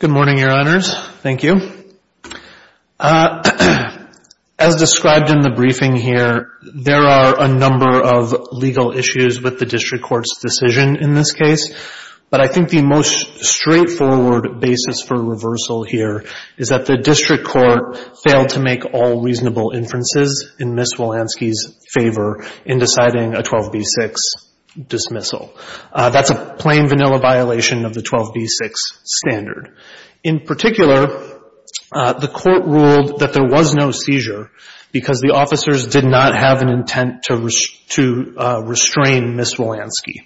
Good morning, Your Honors. Thank you. As described in the briefing here, there are a number of legal issues with the district court's decision in this case, but I think the most straightforward basis for reversal here is that the district court failed to make all reasonable inferences in Ms. Wilansky's favor in deciding a 12b6 dismissal. That's a plain vanilla violation of the 12b6 standard. In particular, the court ruled that there was no seizure because the officers did not have an intent to restrain Ms. Wilansky,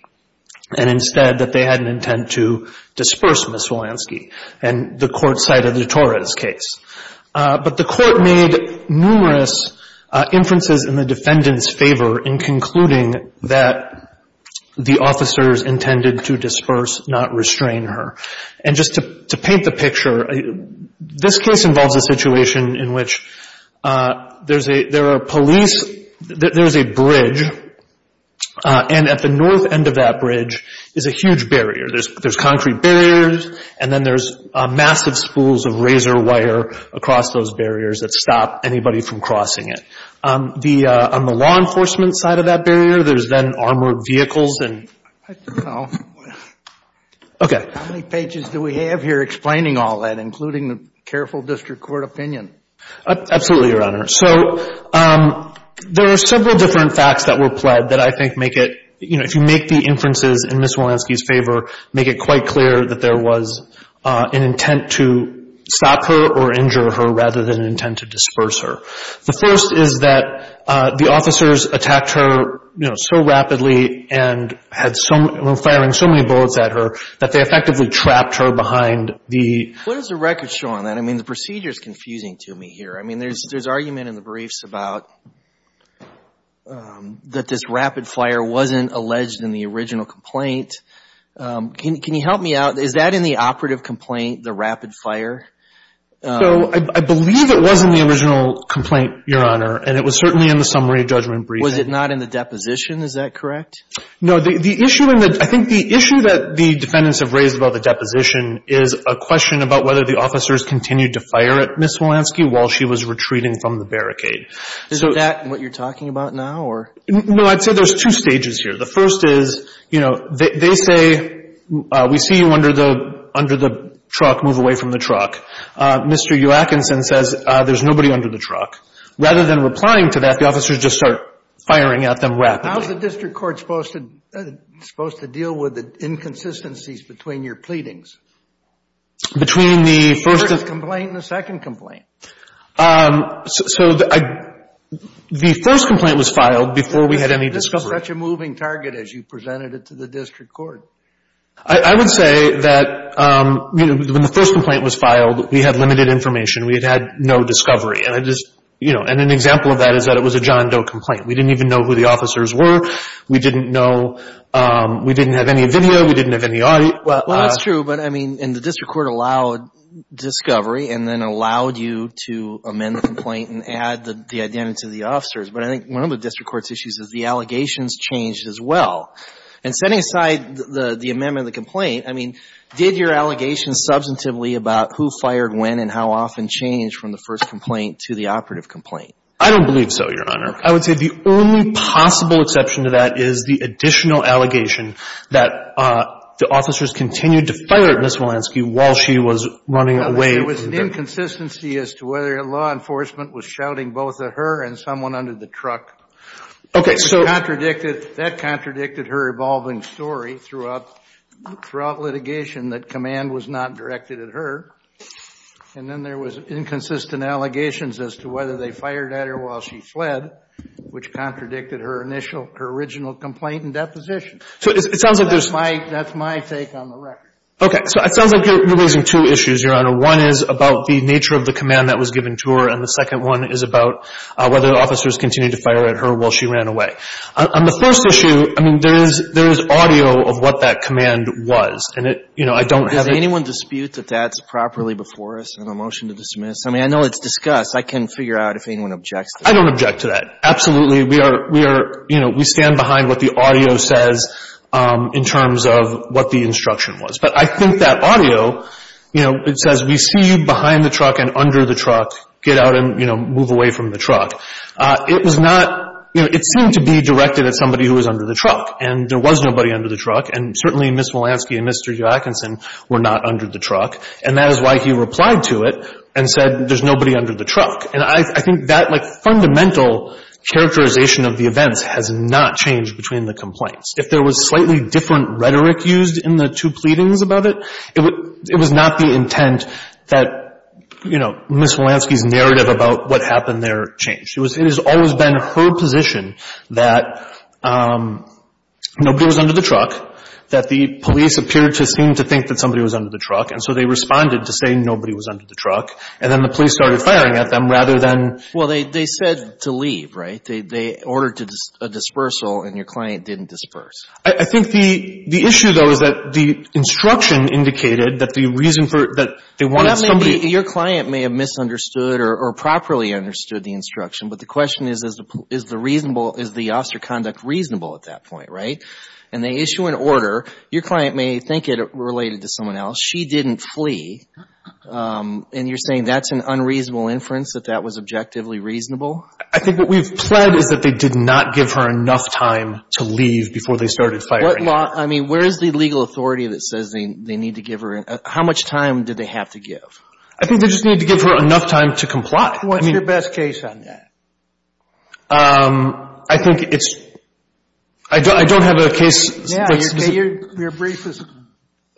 and instead that they had an intent to disperse Ms. Wilansky, and the court cited the Torres case. But the court made numerous inferences in the defendant's favor in concluding that the officers intended to disperse, not restrain her. And just to paint the picture, this case involves a situation in which there's a bridge, and at the north end of that bridge is a huge across those barriers that stop anybody from crossing it. On the law enforcement side of that barrier, there's then armored vehicles and... I don't know. How many pages do we have here explaining all that, including the careful district court opinion? Absolutely, Your Honor. So there are several different facts that were pled that I think make it, you know, if you make the inferences in Ms. Wilansky's favor, make it quite clear that there was an intent to stop her or injure her rather than an intent to disperse her. The first is that the officers attacked her, you know, so rapidly and were firing so many bullets at her that they effectively trapped her behind the... What does the record show on that? I mean, the procedure is confusing to me here. I mean, there's argument in the briefs about that this rapid fire wasn't alleged in the original complaint. Can you help me out? Is that in the operative complaint, the rapid fire? So I believe it was in the original complaint, Your Honor, and it was certainly in the summary judgment brief. Was it not in the deposition? Is that correct? No. The issue in the... I think the issue that the defendants have raised about the deposition is a question about whether the officers continued to fire at Ms. Wilansky while she was retreating from the barricade. Is that what you're talking about now, or... No. I'd say there's two stages here. The first is, you know, they say, we see you under the truck, move away from the truck. Mr. Joachinson says, there's nobody under the truck. Rather than replying to that, the officers just start firing at them rapidly. How's the district court supposed to deal with the inconsistencies between your pleadings? Between the first... The first complaint and the second complaint. So the first complaint was filed before we had any discovery. This was such a moving target as you presented it to the district court. I would say that when the first complaint was filed, we had limited information. We had had no discovery. And an example of that is that it was a John Doe complaint. We didn't even know who the officers were. We didn't know... We didn't have any video. We didn't have any audio. Well, that's true. But I mean, and the district court allowed discovery and then allowed you to amend the complaint and add the identity of the officers. But I think one of the district court's issues is the allegations changed as well. And setting aside the amendment of the complaint, I mean, did your allegations substantively about who fired when and how often change from the first complaint to the operative complaint? I don't believe so, Your Honor. I would say the only possible exception to that is the additional allegation that the officers continued to fire at Ms. Walensky while she was running away. There was an inconsistency as to whether law enforcement was shouting both at her and someone under the truck. Okay, so... That contradicted her evolving story throughout litigation that command was not directed at her. And then there was inconsistent allegations as to whether they fired at her while she fled, which contradicted her initial, her original complaint and deposition. So it sounds like there's... That's my take on the record. Okay. So it sounds like you're raising two issues, Your Honor. One is about the nature of the command that was given to her, and the second one is about whether the officers continued to fire at her while she ran away. On the first issue, I mean, there is audio of what that command was. And it, you know, I don't have... Does anyone dispute that that's properly before us in the motion to dismiss? I mean, I know it's discussed. I can figure out if anyone objects to that. I don't object to that. Absolutely, we are, you know, we stand behind what the audio says in terms of what the instruction was. But I think that audio, you know, it says, we see you behind the truck and under the truck. Get out and, you know, move away from the truck. It was not... You know, it seemed to be directed at somebody who was under the truck. And there was nobody under the truck. And certainly Ms. Walansky and Mr. Joachinson were not under the truck. And that is why he replied to it and said, there's nobody under the truck. And I think that like fundamental characterization of the events has not changed between the complaints. If there was slightly different rhetoric used in the two pleadings about it, it was not the intent that, you know, Ms. Walansky's narrative about what happened there changed. It has always been her position that nobody was under the truck, that the police appeared to seem to think that somebody was under the truck. And so they responded to say nobody was under the truck. And then the police started firing at them rather than... Well, they said to leave, right? They ordered a dispersal, and your client didn't disperse. I think the issue, though, is that the instruction indicated that the reason for... Well, that may be... Your client may have misunderstood or properly understood the instruction. But the question is, is the reasonable... Is the officer conduct reasonable at that point, right? And they issue an order. Your client may think it related to someone else. She didn't flee. And you're saying that's an unreasonable inference, that that was objectively reasonable? I think what we've pled is that they did not give her enough time to leave before they started firing. What law... I mean, where is the legal authority that says they need to give her... How much time did they have to give? I think they just need to give her enough time to comply. I mean... What's your best case on that? I think it's... I don't have a case that's specific... Your brief is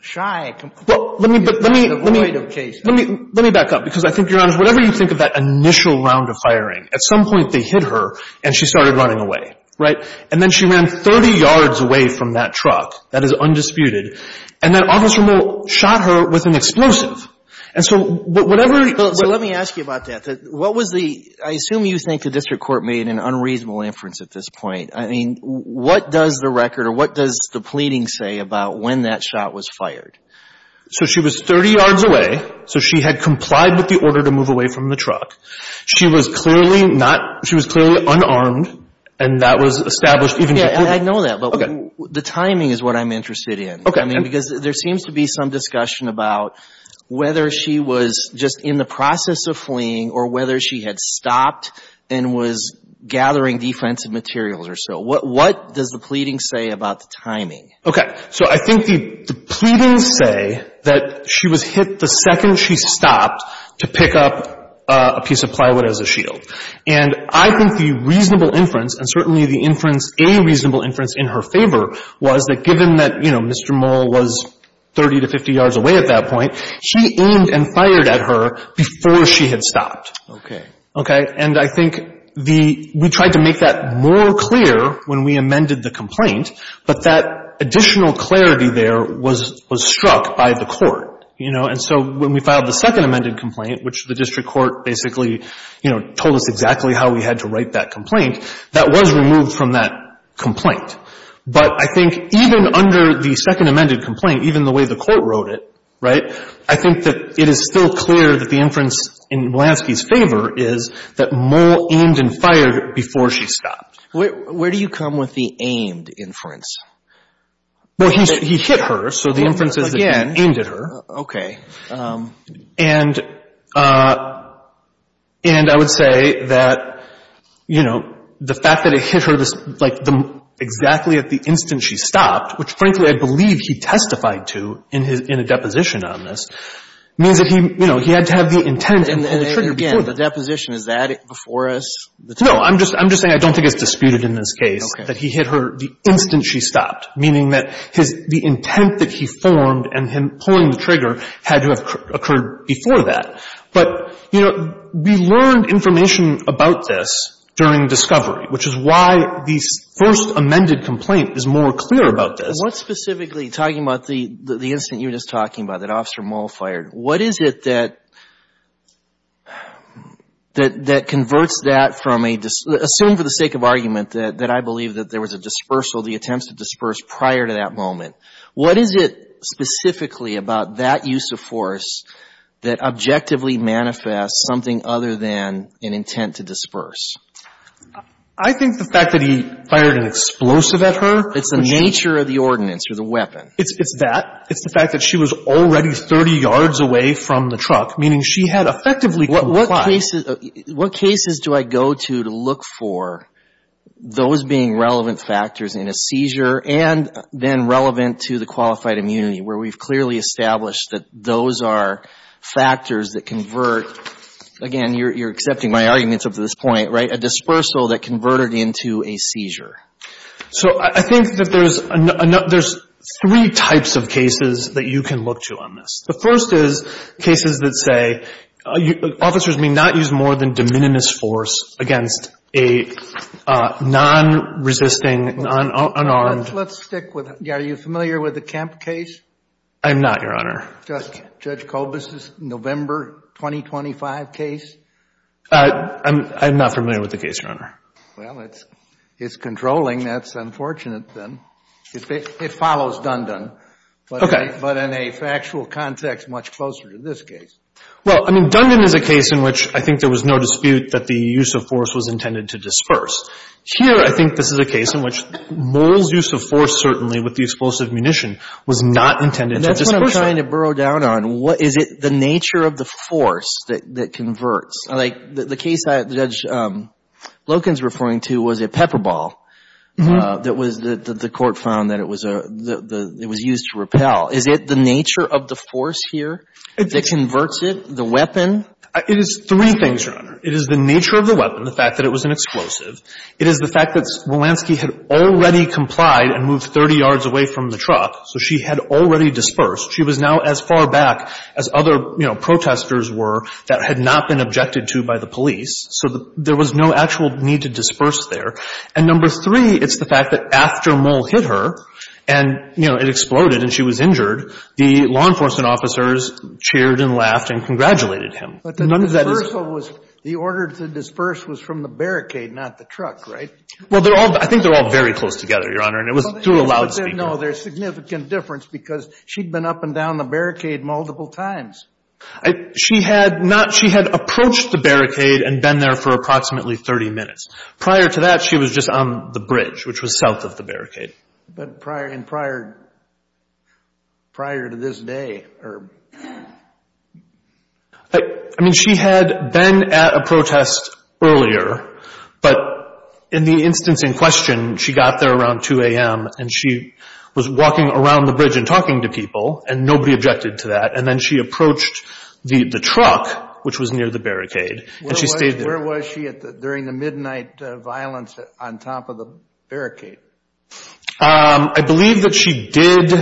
shy. Well, let me... It's an avoidable case. Let me back up, because I think, Your Honor, whatever you think of that initial round of firing, at some point they hit her, and she started running away, right? And then she ran 30 yards away from that truck. That is undisputed. And that officer shot her with an explosive. And so whatever... So let me ask you about that. What was the... I assume you think the district court made an unreasonable inference at this point. I mean, what does the record or what does the pleading say about when that shot was fired? So she was 30 yards away. So she had complied with the order to move away from the truck. She was clearly not... She was clearly unarmed, and that was established even... Yeah, I know that, but the timing is what I'm interested in. Okay. I mean, because there seems to be some discussion about whether she was just in the process of fleeing or whether she had stopped and was gathering defensive materials or so. What does the pleading say about the timing? Okay. So I think the pleadings say that she was hit the second she stopped to pick up a piece of plywood as a shield. And I think the reasonable inference, and certainly the inference, a reasonable inference in her favor, was that given that, you know, Mr. Moll was 30 to 50 yards away at that point, she aimed and fired at her before she had stopped. Okay. Okay. And I think the... We tried to make that more clear when we amended the complaint, but that additional clarity there was struck by the court, you know. And so when we filed the second amended complaint, which the district court basically, you know, told us exactly how we had to write that complaint, that was removed from that complaint. But I think even under the second amended complaint, even the way the court wrote it, right, I think that it is still clear that the reasonable inference in Walansky's favor is that Moll aimed and fired before she stopped. Where do you come with the aimed inference? Well, he hit her, so the inference is that he aimed at her. Okay. And I would say that, you know, the fact that it hit her, like, exactly at the instant she stopped, which frankly I believe he testified to in a deposition on this, means that he, you know, he had to have the intent and pull the trigger before. And again, the deposition, is that before us? No. I'm just saying I don't think it's disputed in this case that he hit her the instant she stopped, meaning that the intent that he formed and him pulling the trigger had to have occurred before that. But, you know, we learned information about this during discovery, which is why the first amended complaint is more clear about this. What specifically, talking about the incident you were just talking about, that Officer Moll fired, what is it that converts that from a, assume for the sake of argument that I believe that there was a dispersal, the attempts to disperse prior to that moment, what is it specifically about that use of force that objectively manifests something other than an intent to disperse? I think the fact that he fired an explosive at her. It's the nature of the ordinance or the weapon. It's that. It's the fact that she was already 30 yards away from the truck, meaning she had effectively complied. What cases do I go to to look for those being relevant factors in a seizure and then relevant to the qualified immunity, where we've clearly established that those are factors that convert, again, you're accepting my arguments up to this point, right, a dispersal that converted into a seizure? So I think that there's three types of cases that you can look to on this. The first is cases that say officers may not use more than de minimis force against a non-resisting, unarmed. Let's stick with, are you familiar with the Kemp case? I'm not, Your Honor. Just Judge Kobus's November 2025 case? I'm not familiar with the case, Your Honor. Well, it's controlling. That's unfortunate, then. It follows Dundon, but in a factual context much closer to this case. Well, I mean, Dundon is a case in which I think there was no dispute that the use of force was intended to disperse. Here, I think this is a case in which Moll's use of force, certainly, with the explosive munition was not intended to disperse. And that's what I'm trying to burrow down on. Is it the nature of the force that converts? Like, the case that Judge Loken's referring to was a pepper ball that was, that the court found that it was a, that it was used to repel. Is it the nature of the force here that converts it, the weapon? It is three things, Your Honor. It is the nature of the weapon, the fact that it was an explosive. It is the fact that Wolanski had already complied and moved 30 yards away from the truck, so she had already dispersed. She was now as far back as other, you know, protesters were that had not been objected to by the police. So there was no actual need to disperse there. And number three, it's the fact that after Moll hit her, and, you know, it exploded and she was injured, the law enforcement officers cheered and laughed and congratulated him. None of that is But the dispersal was, the order to disperse was from the barricade, not the truck, right? Well, they're all, I think they're all very close together, Your Honor, and it was through a loudspeaker. No, there's significant difference because she'd been up and down the barricade multiple times. She had not, she had approached the barricade and been there for approximately 30 minutes. Prior to that, she was just on the bridge, which was south of the barricade. But prior and prior, prior to this day, or. I mean, she had been at a protest earlier, but in the instance in question, she got there around 2 a.m. and she was walking around the bridge and talking to people and nobody objected to that. And then she approached the truck, which was near the barricade, and she stayed there. Where was she during the midnight violence on top of the barricade? I believe that she did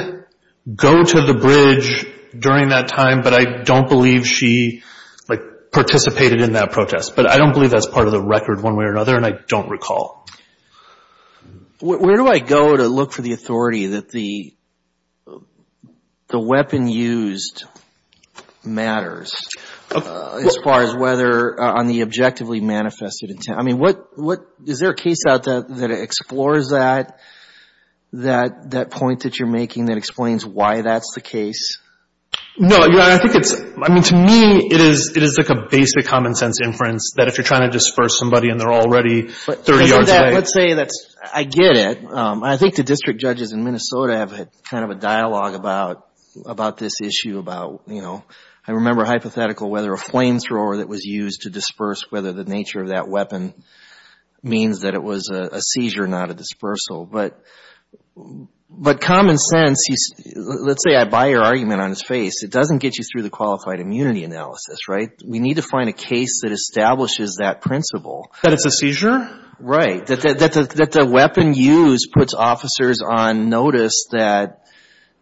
go to the bridge during that time, but I don't believe she, like, participated in that protest. But I don't believe that's part of the record one way or another. And I don't recall. Where do I go to look for the authority that the weapon used matters as far as whether on the objectively manifested intent? I mean, what, what, is there a case out there that explores that, that, that point that you're making that explains why that's the case? No, Your Honor, I think it's, I mean, to me, it is, it is like a basic common sense inference that if you're trying to disperse somebody and they're already 30 yards away. Let's say that's, I get it. I think the district judges in Minnesota have had kind of a dialogue about, about this issue, about, you know, I remember a hypothetical, whether a flamethrower that was used to disperse, whether the nature of that weapon means that it was a seizure, not a dispersal. But, but common sense, let's say I buy your argument on its face. It doesn't get you through the qualified immunity analysis, right? We need to find a case that establishes that principle. That it's a seizure? Right. That, that, that the weapon used puts officers on notice that,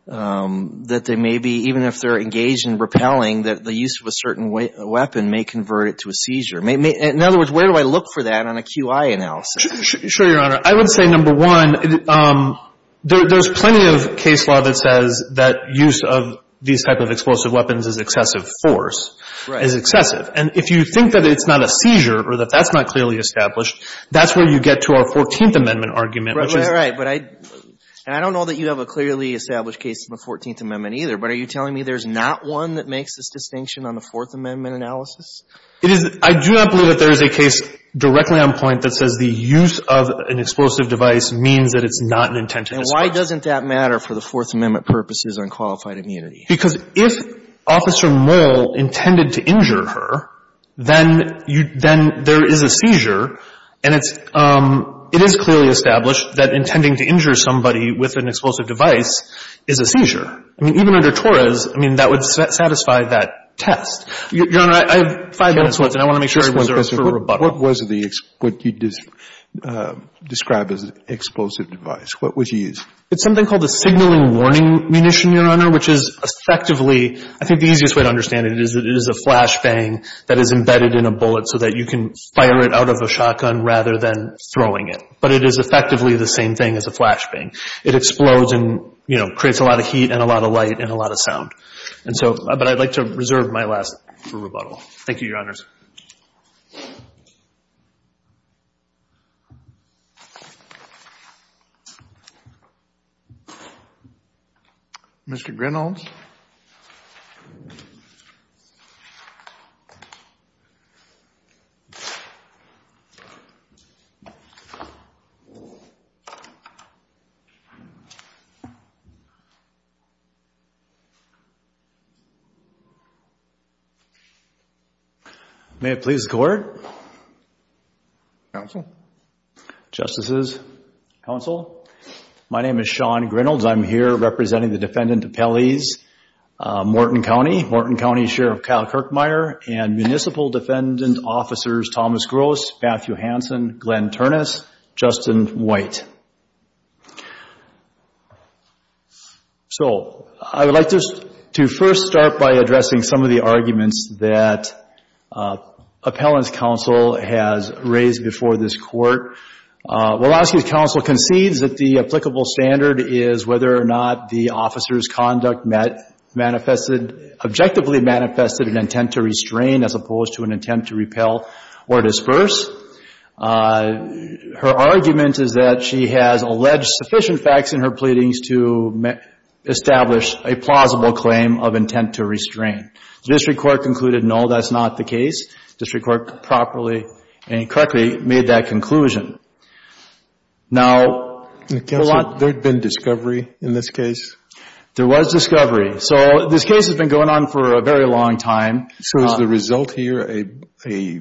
that they may be, even if they're engaged in repelling, that the use of a certain weapon may convert it to a seizure. In other words, where do I look for that on a QI analysis? Sure, Your Honor. I would say, number one, there's plenty of case law that says that use of these type of explosive weapons is excessive force, is excessive. And if you think that it's not a seizure, or that that's not clearly established, that's where you get to our Fourteenth Amendment argument, which is. Right, right, right. But I, and I don't know that you have a clearly established case in the Fourteenth Amendment either, but are you telling me there's not one that makes this distinction on the Fourth Amendment analysis? It is, I do not believe that there is a case directly on point that says the use of an explosive device means that it's not an intent to disperse. And why doesn't that matter for the Fourth Amendment purposes on qualified immunity? Because if Officer Moll intended to injure her, then you, then there is a seizure, and it's, it is clearly established that intending to injure somebody with an explosive device is a seizure. I mean, even under Torres, I mean, that would satisfy that test. Your Honor, I have five minutes left, and I want to make sure I reserve it for rebuttal. What was the, what you describe as explosive device? What was used? It's something called a signaling warning munition, Your Honor, which is effectively, I think the easiest way to understand it is that it is a flashbang that is embedded in a bullet so that you can fire it out of a shotgun rather than throwing it. But it is effectively the same thing as a flashbang. It explodes and, you know, creates a lot of heat and a lot of light and a lot of sound. And so, but I'd like to reserve my last for rebuttal. Thank you, Your Honors. Mr. Grenholms? May it please the Court? Counsel? Justices? Counsel? My name is Sean Grenholms. I'm here representing the Defendant Appellees, Morton County, Morton County Sheriff Kyle Kirkmire and Municipal Defendant Officers Thomas Gross, Matthew Hansen, Glenn Ternus, Justin White. So, I would like to first start by addressing some of the arguments that Appellant's Counsel has raised before this Court. Woloski's counsel concedes that the applicable standard is whether or not the officer's conduct met, manifested, objectively manifested an intent to restrain as opposed to an intent to repel or disperse. Her argument is that she has alleged sufficient facts in her pleadings to establish a plausible claim of intent to restrain. The district court concluded, no, that's not the case. District court properly and correctly made that conclusion. Now, a lot... Counsel, there had been discovery in this case? There was discovery. So, this case has been going on for a very long time. So is the result here a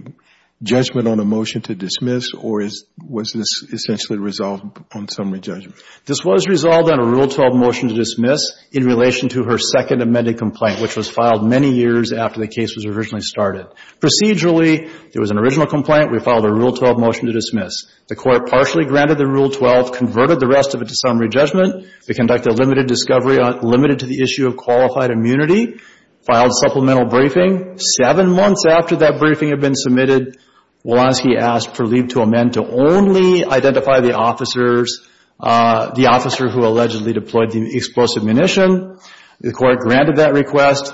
judgment on a motion to dismiss or was this essentially resolved on summary judgment? This was resolved on a Rule 12 motion to dismiss in relation to her second amended complaint which was filed many years after the case was originally started. Procedurally, there was an original complaint. We filed a Rule 12 motion to dismiss. The Court partially granted the Rule 12, converted the rest of it to summary judgment. We conducted a limited discovery, limited to the issue of qualified immunity, filed supplemental briefing. Seven months after that briefing had been submitted, Woloski asked for leave to amend to only identify the officers, the officer who allegedly deployed the explosive munition. The Court granted that request.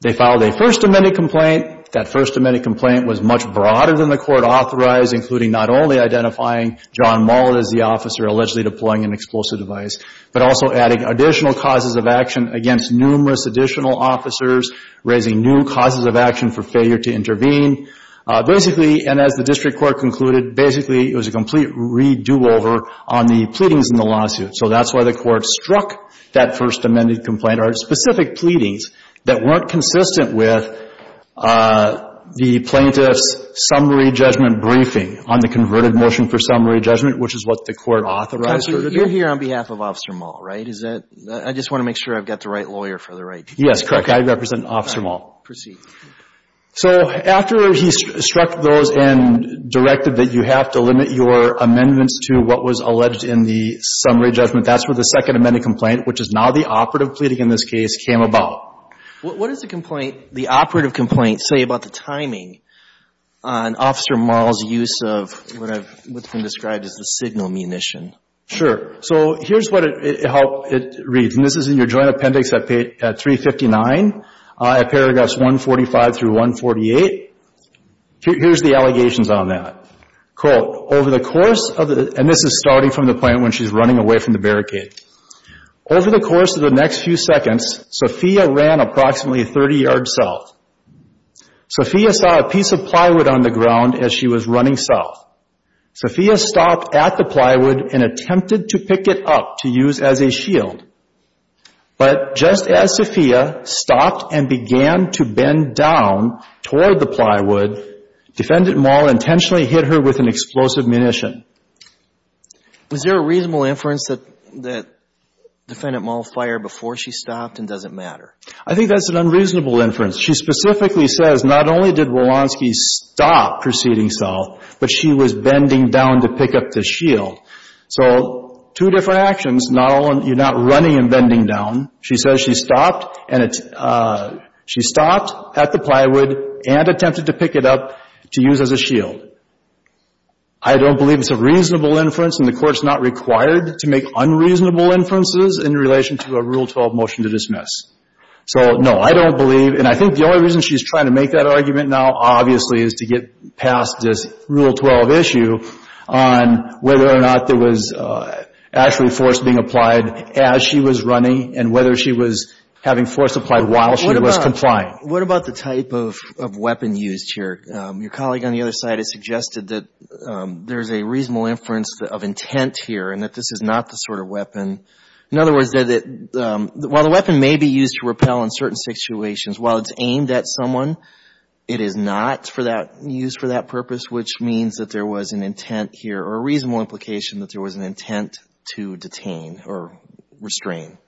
They filed a first amended complaint. That first amended complaint was much broader than the Court authorized, including not only identifying John Mullett as the officer allegedly deploying an explosive device, but also adding additional causes of action against numerous additional officers, raising new causes of action for failure to intervene. Basically, and as the District Court concluded, basically it was a complete redo over on the pleadings in the lawsuit. So that's why the Court struck that first amended complaint or specific pleadings that weren't consistent with the plaintiff's summary judgment briefing on the converted motion for summary judgment, which is what the Court authorized for the day. So you're here on behalf of Officer Mullett, right? Is that, I just want to make sure I've got the right lawyer for the right case. Yes, correct. I represent Officer Mullett. All right. Proceed. So after he struck those and directed that you have to limit your amendments to what was alleged in the summary judgment, that's where the second amended complaint, which is now the operative pleading in this case, came about. What does the complaint, the operative complaint, say about the timing on Officer Mullett's use of what's been described as the signal munition? Sure. So here's what it reads, and this is in your joint appendix at 359, at paragraphs 145 through 148. Here's the allegations on that. Quote, over the course of the, and this is starting from the point when she's running away from the barricade. Over the course of the next few seconds, Sophia ran approximately 30 yards south. Sophia saw a piece of plywood on the ground as she was running south. Sophia stopped at the plywood and attempted to pick it up to use as a shield. But just as Sophia stopped and began to bend down toward the plywood, Defendant Mullett intentionally hit her with an explosive munition. Is there a reasonable inference that, that Defendant Mullett fired before she stopped and does it matter? I think that's an unreasonable inference. She specifically says not only did Walonsky stop proceeding south, but she was bending down to pick up the shield. So two different actions, not all, you're not running and bending down. She says she stopped and, she stopped at the plywood and attempted to pick it up to use as a shield. I don't believe it's a reasonable inference and the Court's not required to make unreasonable inferences in relation to a Rule 12 motion to dismiss. So no, I don't believe, and I think the only reason she's trying to make that argument now obviously is to get past this Rule 12 issue on whether or not there was actually force being applied as she was running and whether she was having force applied while she was complying. What about the type of weapon used here? Your colleague on the other side has suggested that there's a reasonable inference of intent here and that this is not the sort of weapon, in other words, that while the weapon may be used to repel in certain situations, while it's aimed at someone, it is not for that, used for that purpose, which means that there was an intent here or a reasonable implication that there was an intent to detain or restrain.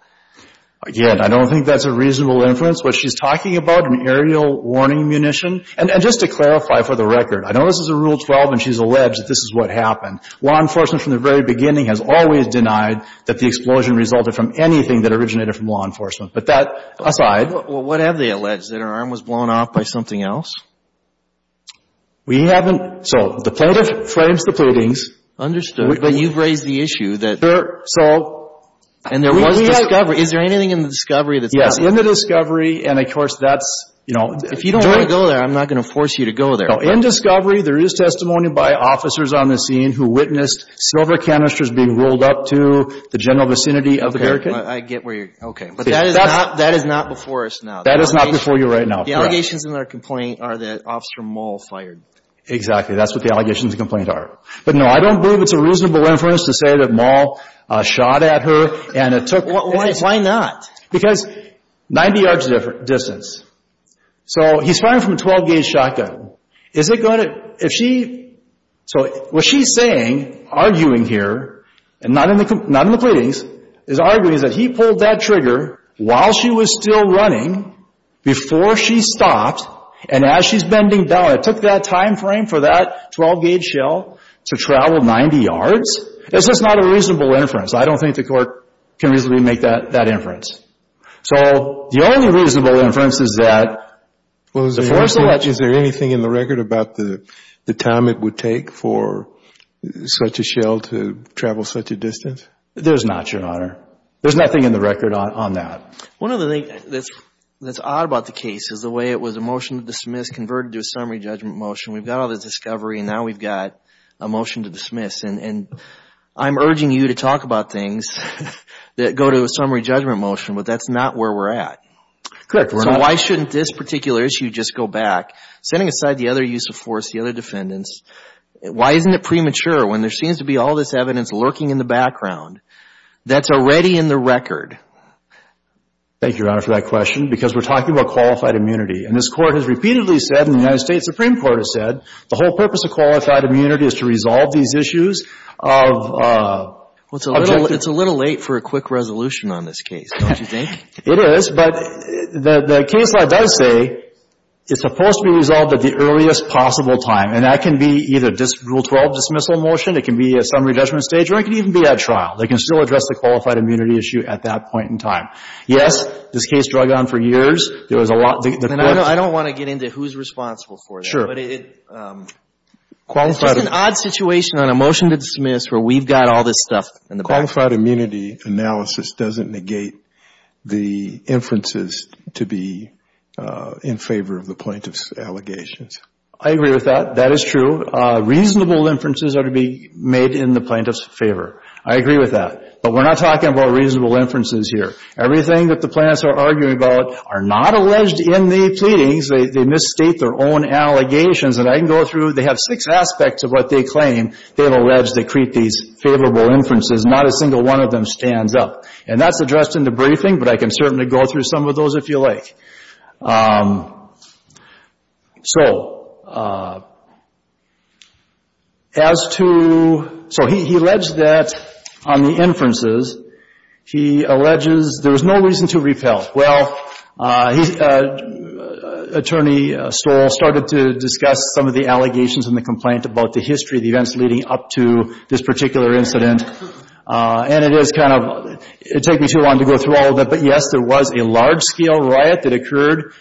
Again, I don't think that's a reasonable inference. What she's talking about, an aerial warning munition, and just to clarify for the record, I know this is a Rule 12 and she's alleged that this is what happened. Law enforcement from the very beginning has always denied that the explosion resulted from anything that originated from law enforcement, but that aside. Well, what have they alleged, that her arm was blown off by something else? We haven't. So the plaintiff frames the pleadings. Understood. But you've raised the issue that there was discovery. Is there anything in the discovery that says that? Yes, in the discovery, and of course, that's, you know. If you don't want to go there, I'm not going to force you to go there. In discovery, there is testimony by officers on the scene who witnessed silver canisters being rolled up to the general vicinity of the hurricane. I get where you're, okay. But that is not, that is not before us now. That is not before you right now. The allegations in our complaint are that Officer Moll fired. Exactly. That's what the allegations in the complaint are. But no, I don't believe it's a reasonable inference to say that Moll shot at her and it took. Why not? Because 90 yards distance. So he's firing from a 12-gauge shotgun. Is it going to, if she, so what she's saying, arguing here, and not in the pleadings, is arguing that he pulled that trigger while she was still running, before she stopped, and as she's bending down, it took that time frame for that 12-gauge shell to travel 90 yards? It's just not a reasonable inference. I don't think the court can reasonably make that inference. So the only reasonable inference is that before selection. Is there anything in the record about the time it would take for such a shell to travel such a distance? There's not, Your Honor. There's nothing in the record on that. One of the things that's odd about the case is the way it was a motion to dismiss converted to a summary judgment motion. We've got all the discovery, and now we've got a motion to dismiss. And I'm urging you to talk about things that go to a summary judgment motion, but that's not where we're at. So why shouldn't this particular issue just go back, setting aside the other use of force, the other defendants? Why isn't it premature when there seems to be all this evidence lurking in the background that's already in the record? Thank you, Your Honor, for that question, because we're talking about qualified immunity. And this Court has repeatedly said, and the United States Supreme Court has said, the whole purpose of qualified immunity is to resolve these issues of objective It's a little late for a quick resolution on this case, don't you think? It is, but the case law does say it's supposed to be resolved at the earliest possible time, and that can be either Rule 12 dismissal motion, it can be a summary judgment stage, or it can even be at trial. They can still address the qualified immunity issue at that point in time. Yes, this case drugged on for years. There was a lot of And I don't want to get into who's responsible for that. Sure. But it's just an odd situation on a motion to dismiss where we've got all this stuff in the back. Qualified immunity analysis doesn't negate the inferences to be in favor of the plaintiff's allegations. I agree with that. That is true. Reasonable inferences are to be made in the plaintiff's favor. I agree with that. But we're not talking about reasonable inferences here. Everything that the plaintiffs are arguing about are not alleged in the pleadings. They misstate their own allegations. And I can go through. They have six aspects of what they claim. They have alleged they create these favorable inferences. Not a single one of them stands up. And that's addressed in the briefing, but I can certainly go through some of those if you like. So as to so he alleged that on the inferences, he alleges there's no reason to repel. Well, Attorney Stoll started to discuss some of the allegations in the complaint about the history, the events leading up to this particular incident. And it is kind of, it'd take me too long to go through all of that. But yes, there was a large scale riot that occurred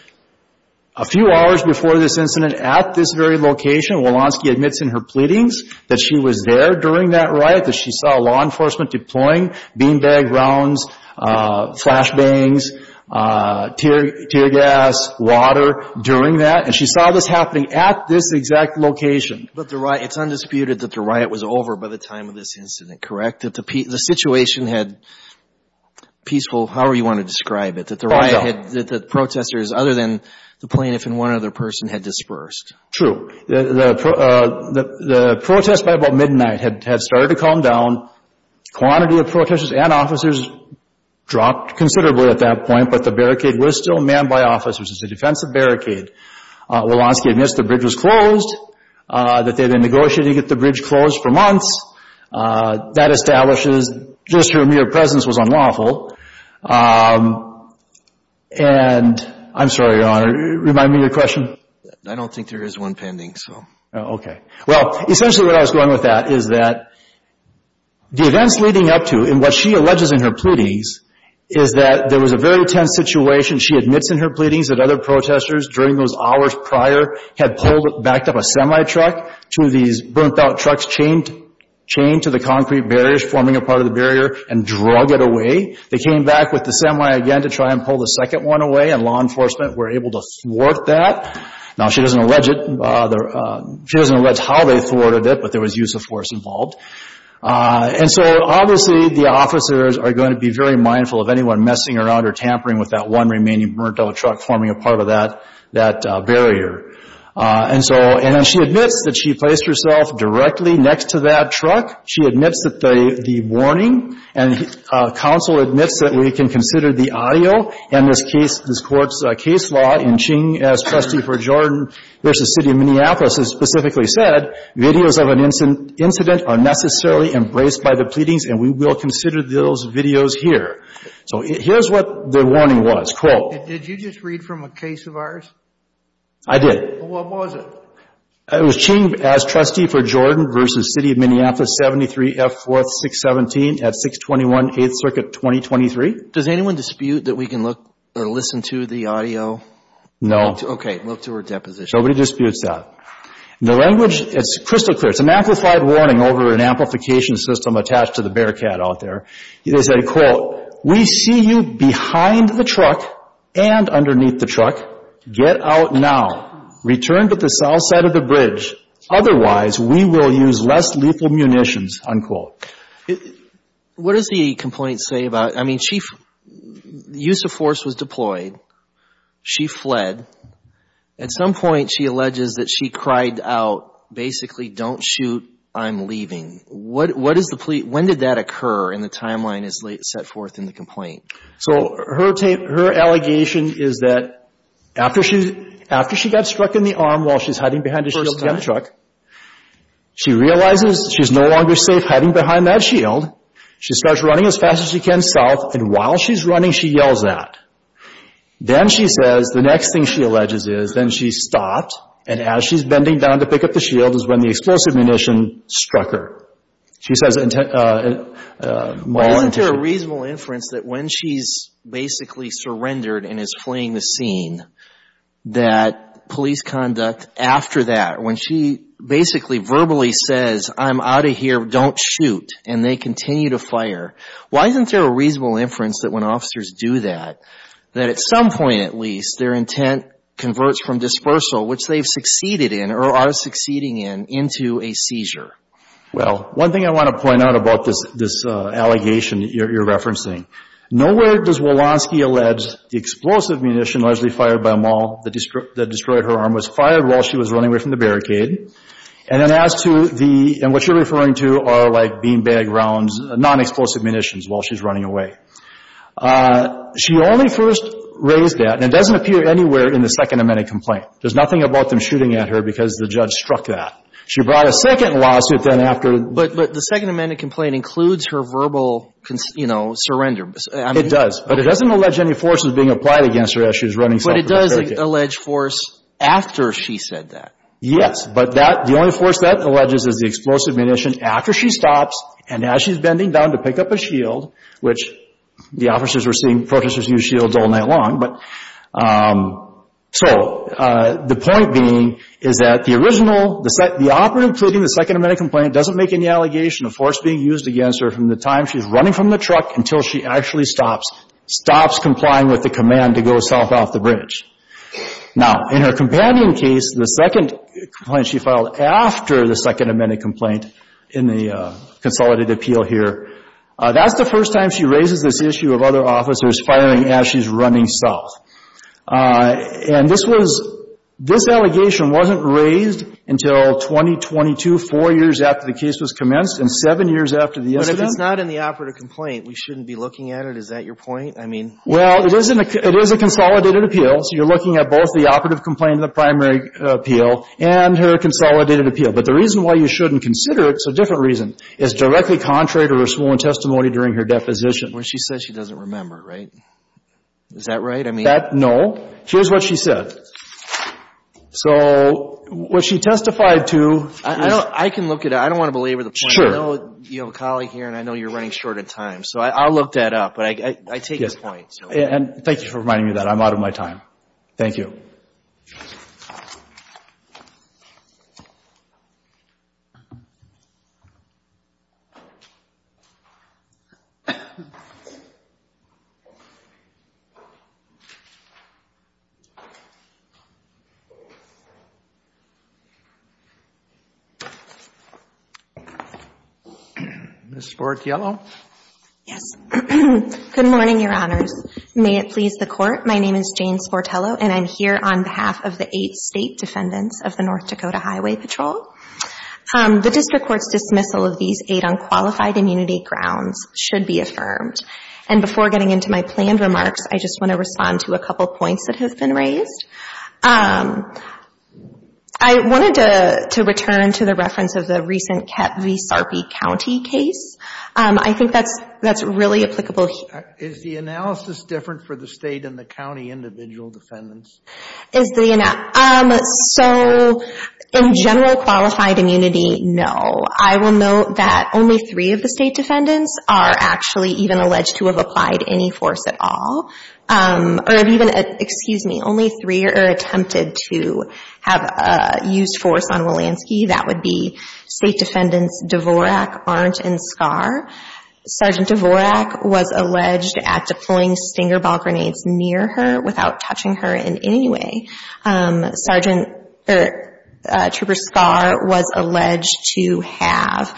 a few hours before this incident at this very location. Walonsky admits in her pleadings that she was there during that riot, that she saw law enforcement deploying beanbag rounds, flash bangs, tear gas, water during that. And she saw this happening at this exact location. But it's undisputed that the riot was over by the time of this incident, correct? That the situation had peaceful, however you want to describe it, that the riot had, that the protesters other than the plaintiff and one other person had dispersed. True. The protest by about midnight had started to calm down. Quantity of protesters and officers dropped considerably at that point. But the barricade was still manned by officers. It's a defensive barricade. Walonsky admits the bridge was closed, that they had been negotiating to get the bridge closed for months. That establishes just her mere presence was unlawful. And I'm sorry, Your Honor, remind me of your question. I don't think there is one pending, so. Okay. Well, essentially what I was going with that is that the events leading up to, and what she alleges in her pleadings, is that there was a very tense situation. She admits in her pleadings that other protesters during those hours prior had pulled, backed up a semi-truck, two of these burnt-out trucks chained to the concrete barriers forming a part of the barrier and drug it away. They came back with the semi again to try and pull the second one away, and law enforcement were able to thwart that. Now she doesn't allege it, she doesn't allege how they thwarted it, but there was use of force involved. And so obviously the officers are going to be very mindful of anyone messing around or tampering with that one remaining burnt-out truck forming a part of that barrier. And so, and then she admits that she placed herself directly next to that truck. She admits that the warning, and counsel admits that we can consider the audio in this case, this Court's case law in Ching as trustee for Jordan versus City of Minneapolis, has specifically said, videos of an incident are necessarily embraced by the pleadings and we will consider those videos here. So here's what the warning was. Quote. Did you just read from a case of ours? I did. What was it? It was Ching as trustee for Jordan versus City of Minneapolis, 73F 4th 617 at 621 8th Circuit 2023. Does anyone dispute that we can look or listen to the audio? Okay. Look to her deposition. Nobody disputes that. The language is crystal clear. It's an amplified warning over an amplification system attached to the bearcat out there. They said, quote, we see you behind the truck and underneath the truck. Get out now. Return to the south side of the bridge. Otherwise, we will use less lethal munitions, unquote. What does the complaint say about, I mean, the use of force was deployed. She fled. At some point, she alleges that she cried out, basically, don't shoot. I'm leaving. What is the plea? When did that occur in the timeline as set forth in the complaint? So her allegation is that after she got struck in the arm while she's hiding behind a shield behind a truck, she realizes she's no longer safe hiding behind that shield. She starts running as fast as she can south. And while she's running, she yells at. Then she says, the next thing she alleges is, then she stopped. And as she's bending down to pick up the shield is when the explosive munition struck her. She says, and... Well, isn't there a reasonable inference that when she's basically surrendered and is fleeing the scene, that police conduct after that, when she basically verbally says, I'm out of here, don't shoot, and they continue to fire, why isn't there a reasonable inference that when officers do that, that at some point, at least, their intent converts from dispersal, which they've succeeded in or are succeeding in, into a seizure? Well, one thing I want to point out about this allegation that you're referencing, nowhere does Walonsky allege the explosive munition largely fired by Maul that destroyed her arm was fired while she was running away from the barricade. And then as to the, and what you're referring to are like beanbag rounds, non-explosive munitions while she's running away. She only first raised that, and it doesn't appear anywhere in the Second Amendment complaint. There's nothing about them shooting at her because the judge struck that. She brought a second lawsuit then after. But the Second Amendment complaint includes her verbal, you know, surrender. It does, but it doesn't allege any forces being applied against her as she's running. But it does allege force after she said that. Yes, but that, the only force that alleges is the explosive munition after she stops and as she's bending down to pick up a shield, which the officers were seeing protesters use shields all night long. But, so, the point being is that the original, the operative including the Second Amendment complaint doesn't make any allegation of force being used against her from the time she's running from the truck until she actually stops, stops complying with the command to go south off the bridge. Now, in her companion case, the second complaint she filed after the Second Amendment complaint in the consolidated appeal here, that's the first time she raises this issue of other officers firing as she's running south. And this was, this allegation wasn't raised until 2022, four years after the case was commenced and seven years after the incident. But it's not in the operative complaint. We shouldn't be looking at it. Is that your point? I mean. Well, it is in the, it is a consolidated appeal. So, you're looking at both the operative complaint in the primary appeal and her consolidated appeal. But the reason why you shouldn't consider it, it's a different reason, is directly contrary to her sworn testimony during her deposition. Well, she says she doesn't remember, right? Is that right? I mean. That, no. Here's what she said. So, what she testified to is. I don't, I can look at it. I don't want to belabor the point. Sure. I know you have a colleague here and I know you're running short of time. So, I'll look that up. But I take your point, so. And thank you for reminding me of that. I'm out of my time. Thank you. Ms. Spork-Yellow? Yes. Good morning, your honors. May it please the court. My name is Jane Sportello and I'm here on behalf of the eight state defendants of the North Dakota Highway Patrol. The district court's dismissal of these eight unqualified immunity grounds should be affirmed. And before getting into my planned remarks, I just want to respond to a couple points that have been raised. I wanted to return to the reference of the recent Kep V. Sarpy County case. I think that's really applicable. Is the analysis different for the state and the county individual defendants? Is the... So, in general qualified immunity, no. I will note that only three of the state defendants are actually even alleged to have applied any force at all. Or even, excuse me, only three are attempted to have used force on Walensky. That would be state defendants Dvorak, Arndt, and Skar. Sergeant Dvorak was alleged at deploying stinger ball grenades near her without touching her in any way. Sergeant... Trooper Skar was alleged to have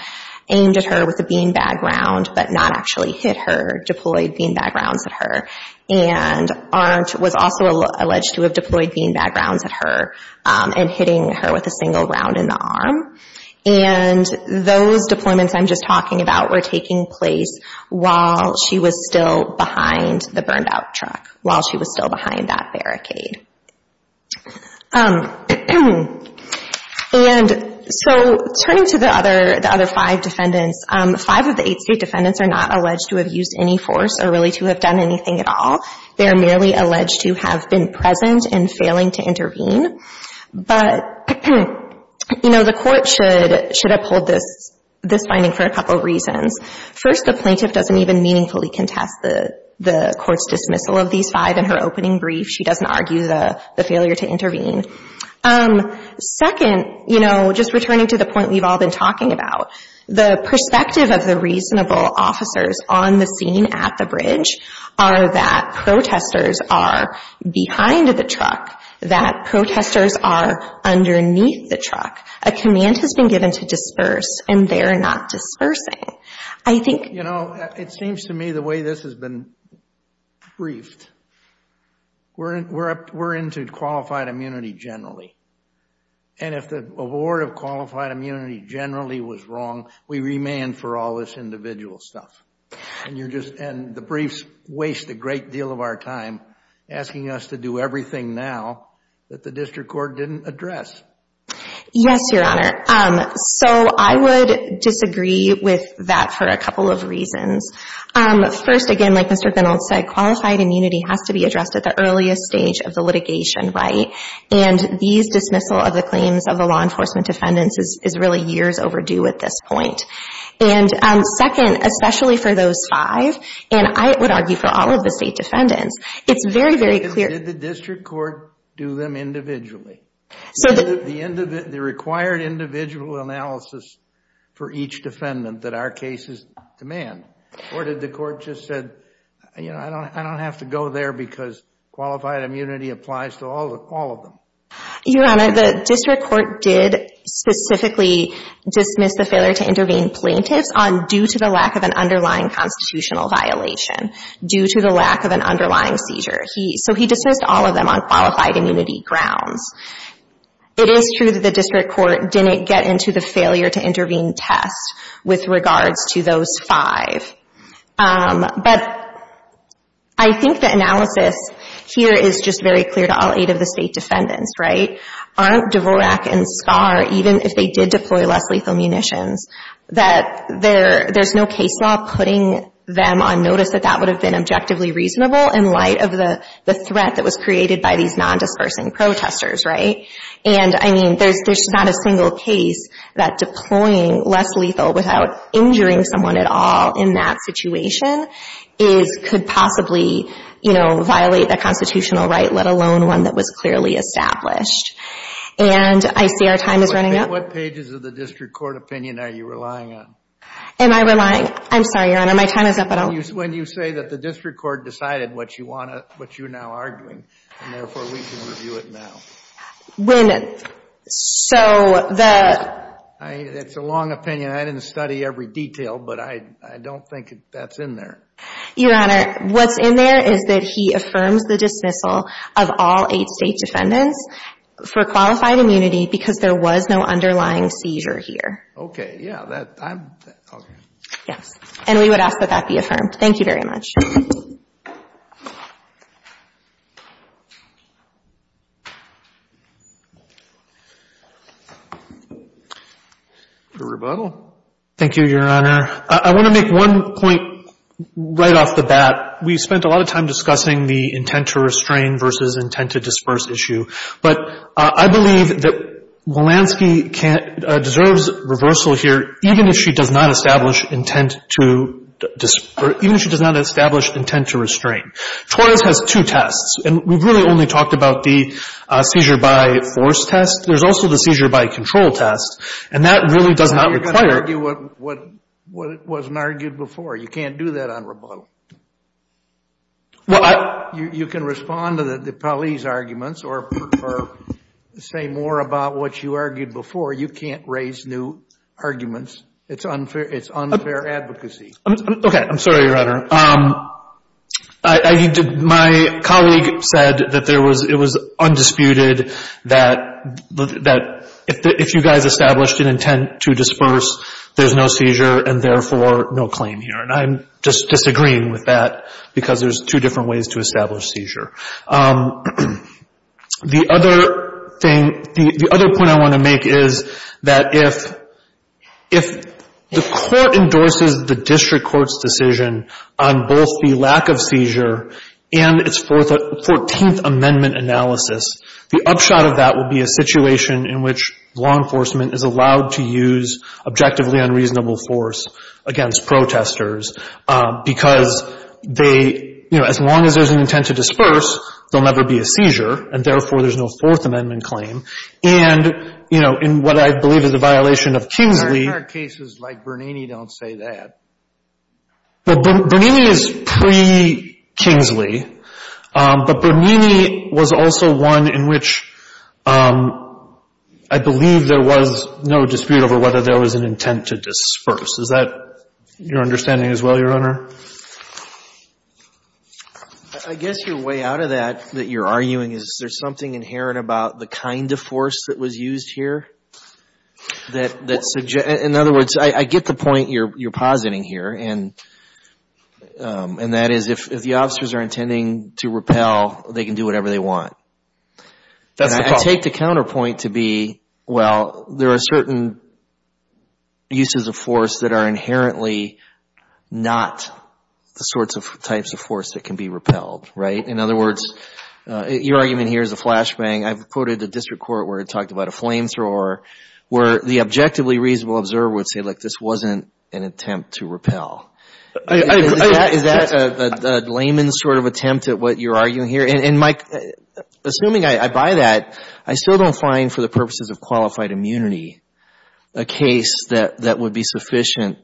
aimed at her with a bean bag round but not actually hit her, deployed bean bag rounds at her. And Arndt was also alleged to have deployed bean bag rounds at her and hitting her with a single round in the arm. And those deployments I'm just talking about were taking place while she was still behind the burned out truck, while she was still behind that barricade. And so, turning to the other five defendants, five of the eight state defendants are not alleged to have used any force or really to have done anything at all. They're merely alleged to have been present and failing to intervene. But, you know, the court should uphold this finding for a couple reasons. First, the plaintiff doesn't even meaningfully contest the court's dismissal of these five in her opening brief. She doesn't argue the failure to intervene. Second, you know, just returning to the point we've all been talking about, the perspective of the reasonable officers on the scene at the bridge are that protesters are behind the truck, that protesters are underneath the truck. A command has been given to disperse and they're not dispersing. I think... You know, it seems to me the way this has been briefed, we're into qualified immunity generally. And if the award of qualified immunity generally was wrong, we remand for all this individual stuff. And you're just... And the briefs waste a great deal of our time asking us to do everything now that the district court didn't address. Yes, Your Honor. So I would disagree with that for a couple of reasons. First, again, like Mr. Reynolds said, qualified immunity has to be addressed at the earliest stage of the litigation, right? And these dismissal of the claims of the law enforcement defendants is really years overdue at this point. And second, especially for those five, and I would argue for all of the state defendants, it's very, very clear... Did the district court do them individually? So the... The required individual analysis for each defendant that our cases demand? Or did the court just said, you know, I don't have to go there because qualified immunity applies to all of them? Your Honor, the district court did specifically dismiss the failure to intervene plaintiffs on due to the lack of an underlying constitutional violation, due to the lack of an underlying seizure. He... So he dismissed all of them on qualified immunity grounds. It is true that the district court didn't get into the failure to intervene test with regards to those five. But I think the analysis here is just very clear to all eight of the state defendants, right? Aren't Dvorak and Starr, even if they did deploy less lethal munitions, that there's no case law putting them on notice that that would have been objectively reasonable in light of the threat that was created by these non-dispersing protesters, right? And I mean, there's not a single case that deploying less lethal without injuring someone at all in that situation is... Could possibly, you know, violate the constitutional right, let alone one that was clearly established. And I see our time is running out. What pages of the district court opinion are you relying on? Am I relying? I'm sorry, Your Honor, my time is up, I don't... When you say that the district court decided what you want to... What you now are doing, and therefore we can review it now. When... So the... It's a long opinion. I didn't study every detail, but I don't think that's in there. Your Honor, what's in there is that he affirms the dismissal of all eight state defendants for qualified immunity because there was no underlying seizure here. Okay, yeah, that, I'm... Okay. Yes. And we would ask that that be affirmed. Thank you very much. The rebuttal? Thank you, Your Honor. I want to make one point right off the bat. We spent a lot of time discussing the intent to restrain versus intent to disperse issue. But I believe that Walansky deserves reversal here, even if she does not establish intent to disperse, even if she does not establish intent to restrain. Torres has two tests, and we've really only talked about the seizure by force test. There's also the seizure by control test, and that really does not require... You're going to argue what wasn't argued before. You can't do that on rebuttal. Well, I... You can respond to the police arguments or say more about what you argued before. You can't raise new arguments. It's unfair advocacy. Okay, I'm sorry, Your Honor. I need to... My colleague said that it was undisputed that if you guys established an intent to disperse, there's no seizure, and therefore, no claim here. And I'm just disagreeing with that because there's two different ways to establish seizure. The other point I want to make is that if the court endorses the district court's decision on both the lack of seizure and its 14th Amendment analysis, the upshot of that will be a situation in which law enforcement is allowed to use objectively unreasonable force against protesters because they... You know, as long as there's an intent to disperse, there'll never be a seizure, and therefore, there's no Fourth Amendment claim. And, you know, in what I believe is a violation of Kingsley... I heard cases like Bernini don't say that. Bernini is pre-Kingsley, but Bernini was also one in which I believe there was no dispute over whether there was an intent to disperse. Is that your understanding as well, Your Honor? I guess your way out of that, that you're arguing, is there's something inherent about the kind of force that was used here that suggests... In other words, I get the point you're positing here, and that is if the officers are intending to repel, they can do whatever they want. I take the counterpoint to be, well, there are certain uses of force that are inherently not the sorts of types of force that can be repelled, right? In other words, your argument here is a flashbang. I've quoted the district court where it talked about a flamethrower, where the objectively reasonable observer would say, like, this wasn't an attempt to repel. Is that a layman's sort of attempt at what you're arguing here? And, Mike, assuming I buy that, I still don't find, for the purposes of qualified immunity, a case that would be sufficient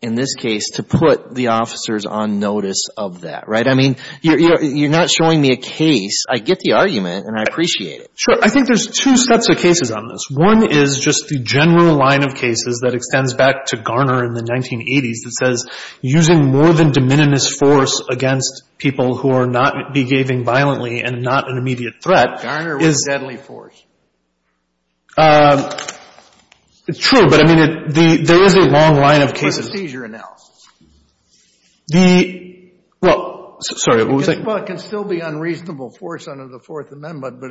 in this case to put the officers on notice of that, right? I mean, you're not showing me a case. I get the argument, and I appreciate it. Sure. I think there's two sets of cases on this. One is just the general line of cases that extends back to Garner in the 1980s that says, using more than de minimis force against people who are not behaving violently and not an immediate threat is... Garner was deadly force. True, but, I mean, there is a long line of cases... Procedure announced. The... Well, sorry, what was I... Well, it can still be unreasonable force under the Fourth Amendment, but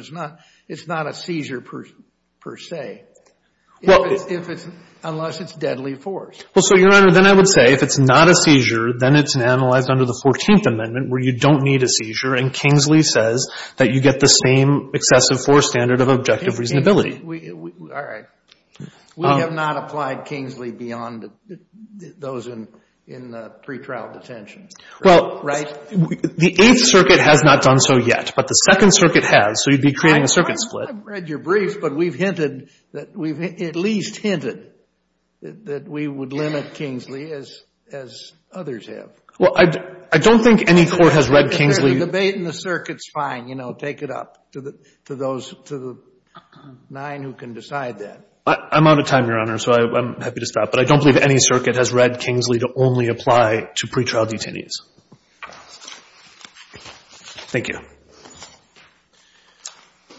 it's not a seizure, per se, unless it's deadly force. Well, so, Your Honor, then I would say, if it's not a seizure, then it's analyzed under the Fourteenth Amendment, where you don't need a seizure, and Kingsley says that you get the same excessive force standard of objective reasonability. All right. We have not applied Kingsley beyond those in pretrial detention, right? The Eighth Circuit has not done so yet, but the Second Circuit has, so you'd be creating a circuit split. I've read your brief, but we've hinted that we've at least hinted that we would limit Kingsley as others have. Well, I don't think any court has read Kingsley... The debate in the circuit's fine, you know, take it up to the nine who can decide that. I'm out of time, Your Honor, so I'm happy to stop, but I don't believe any circuit has read Kingsley to only apply to pretrial detainees. Thank you.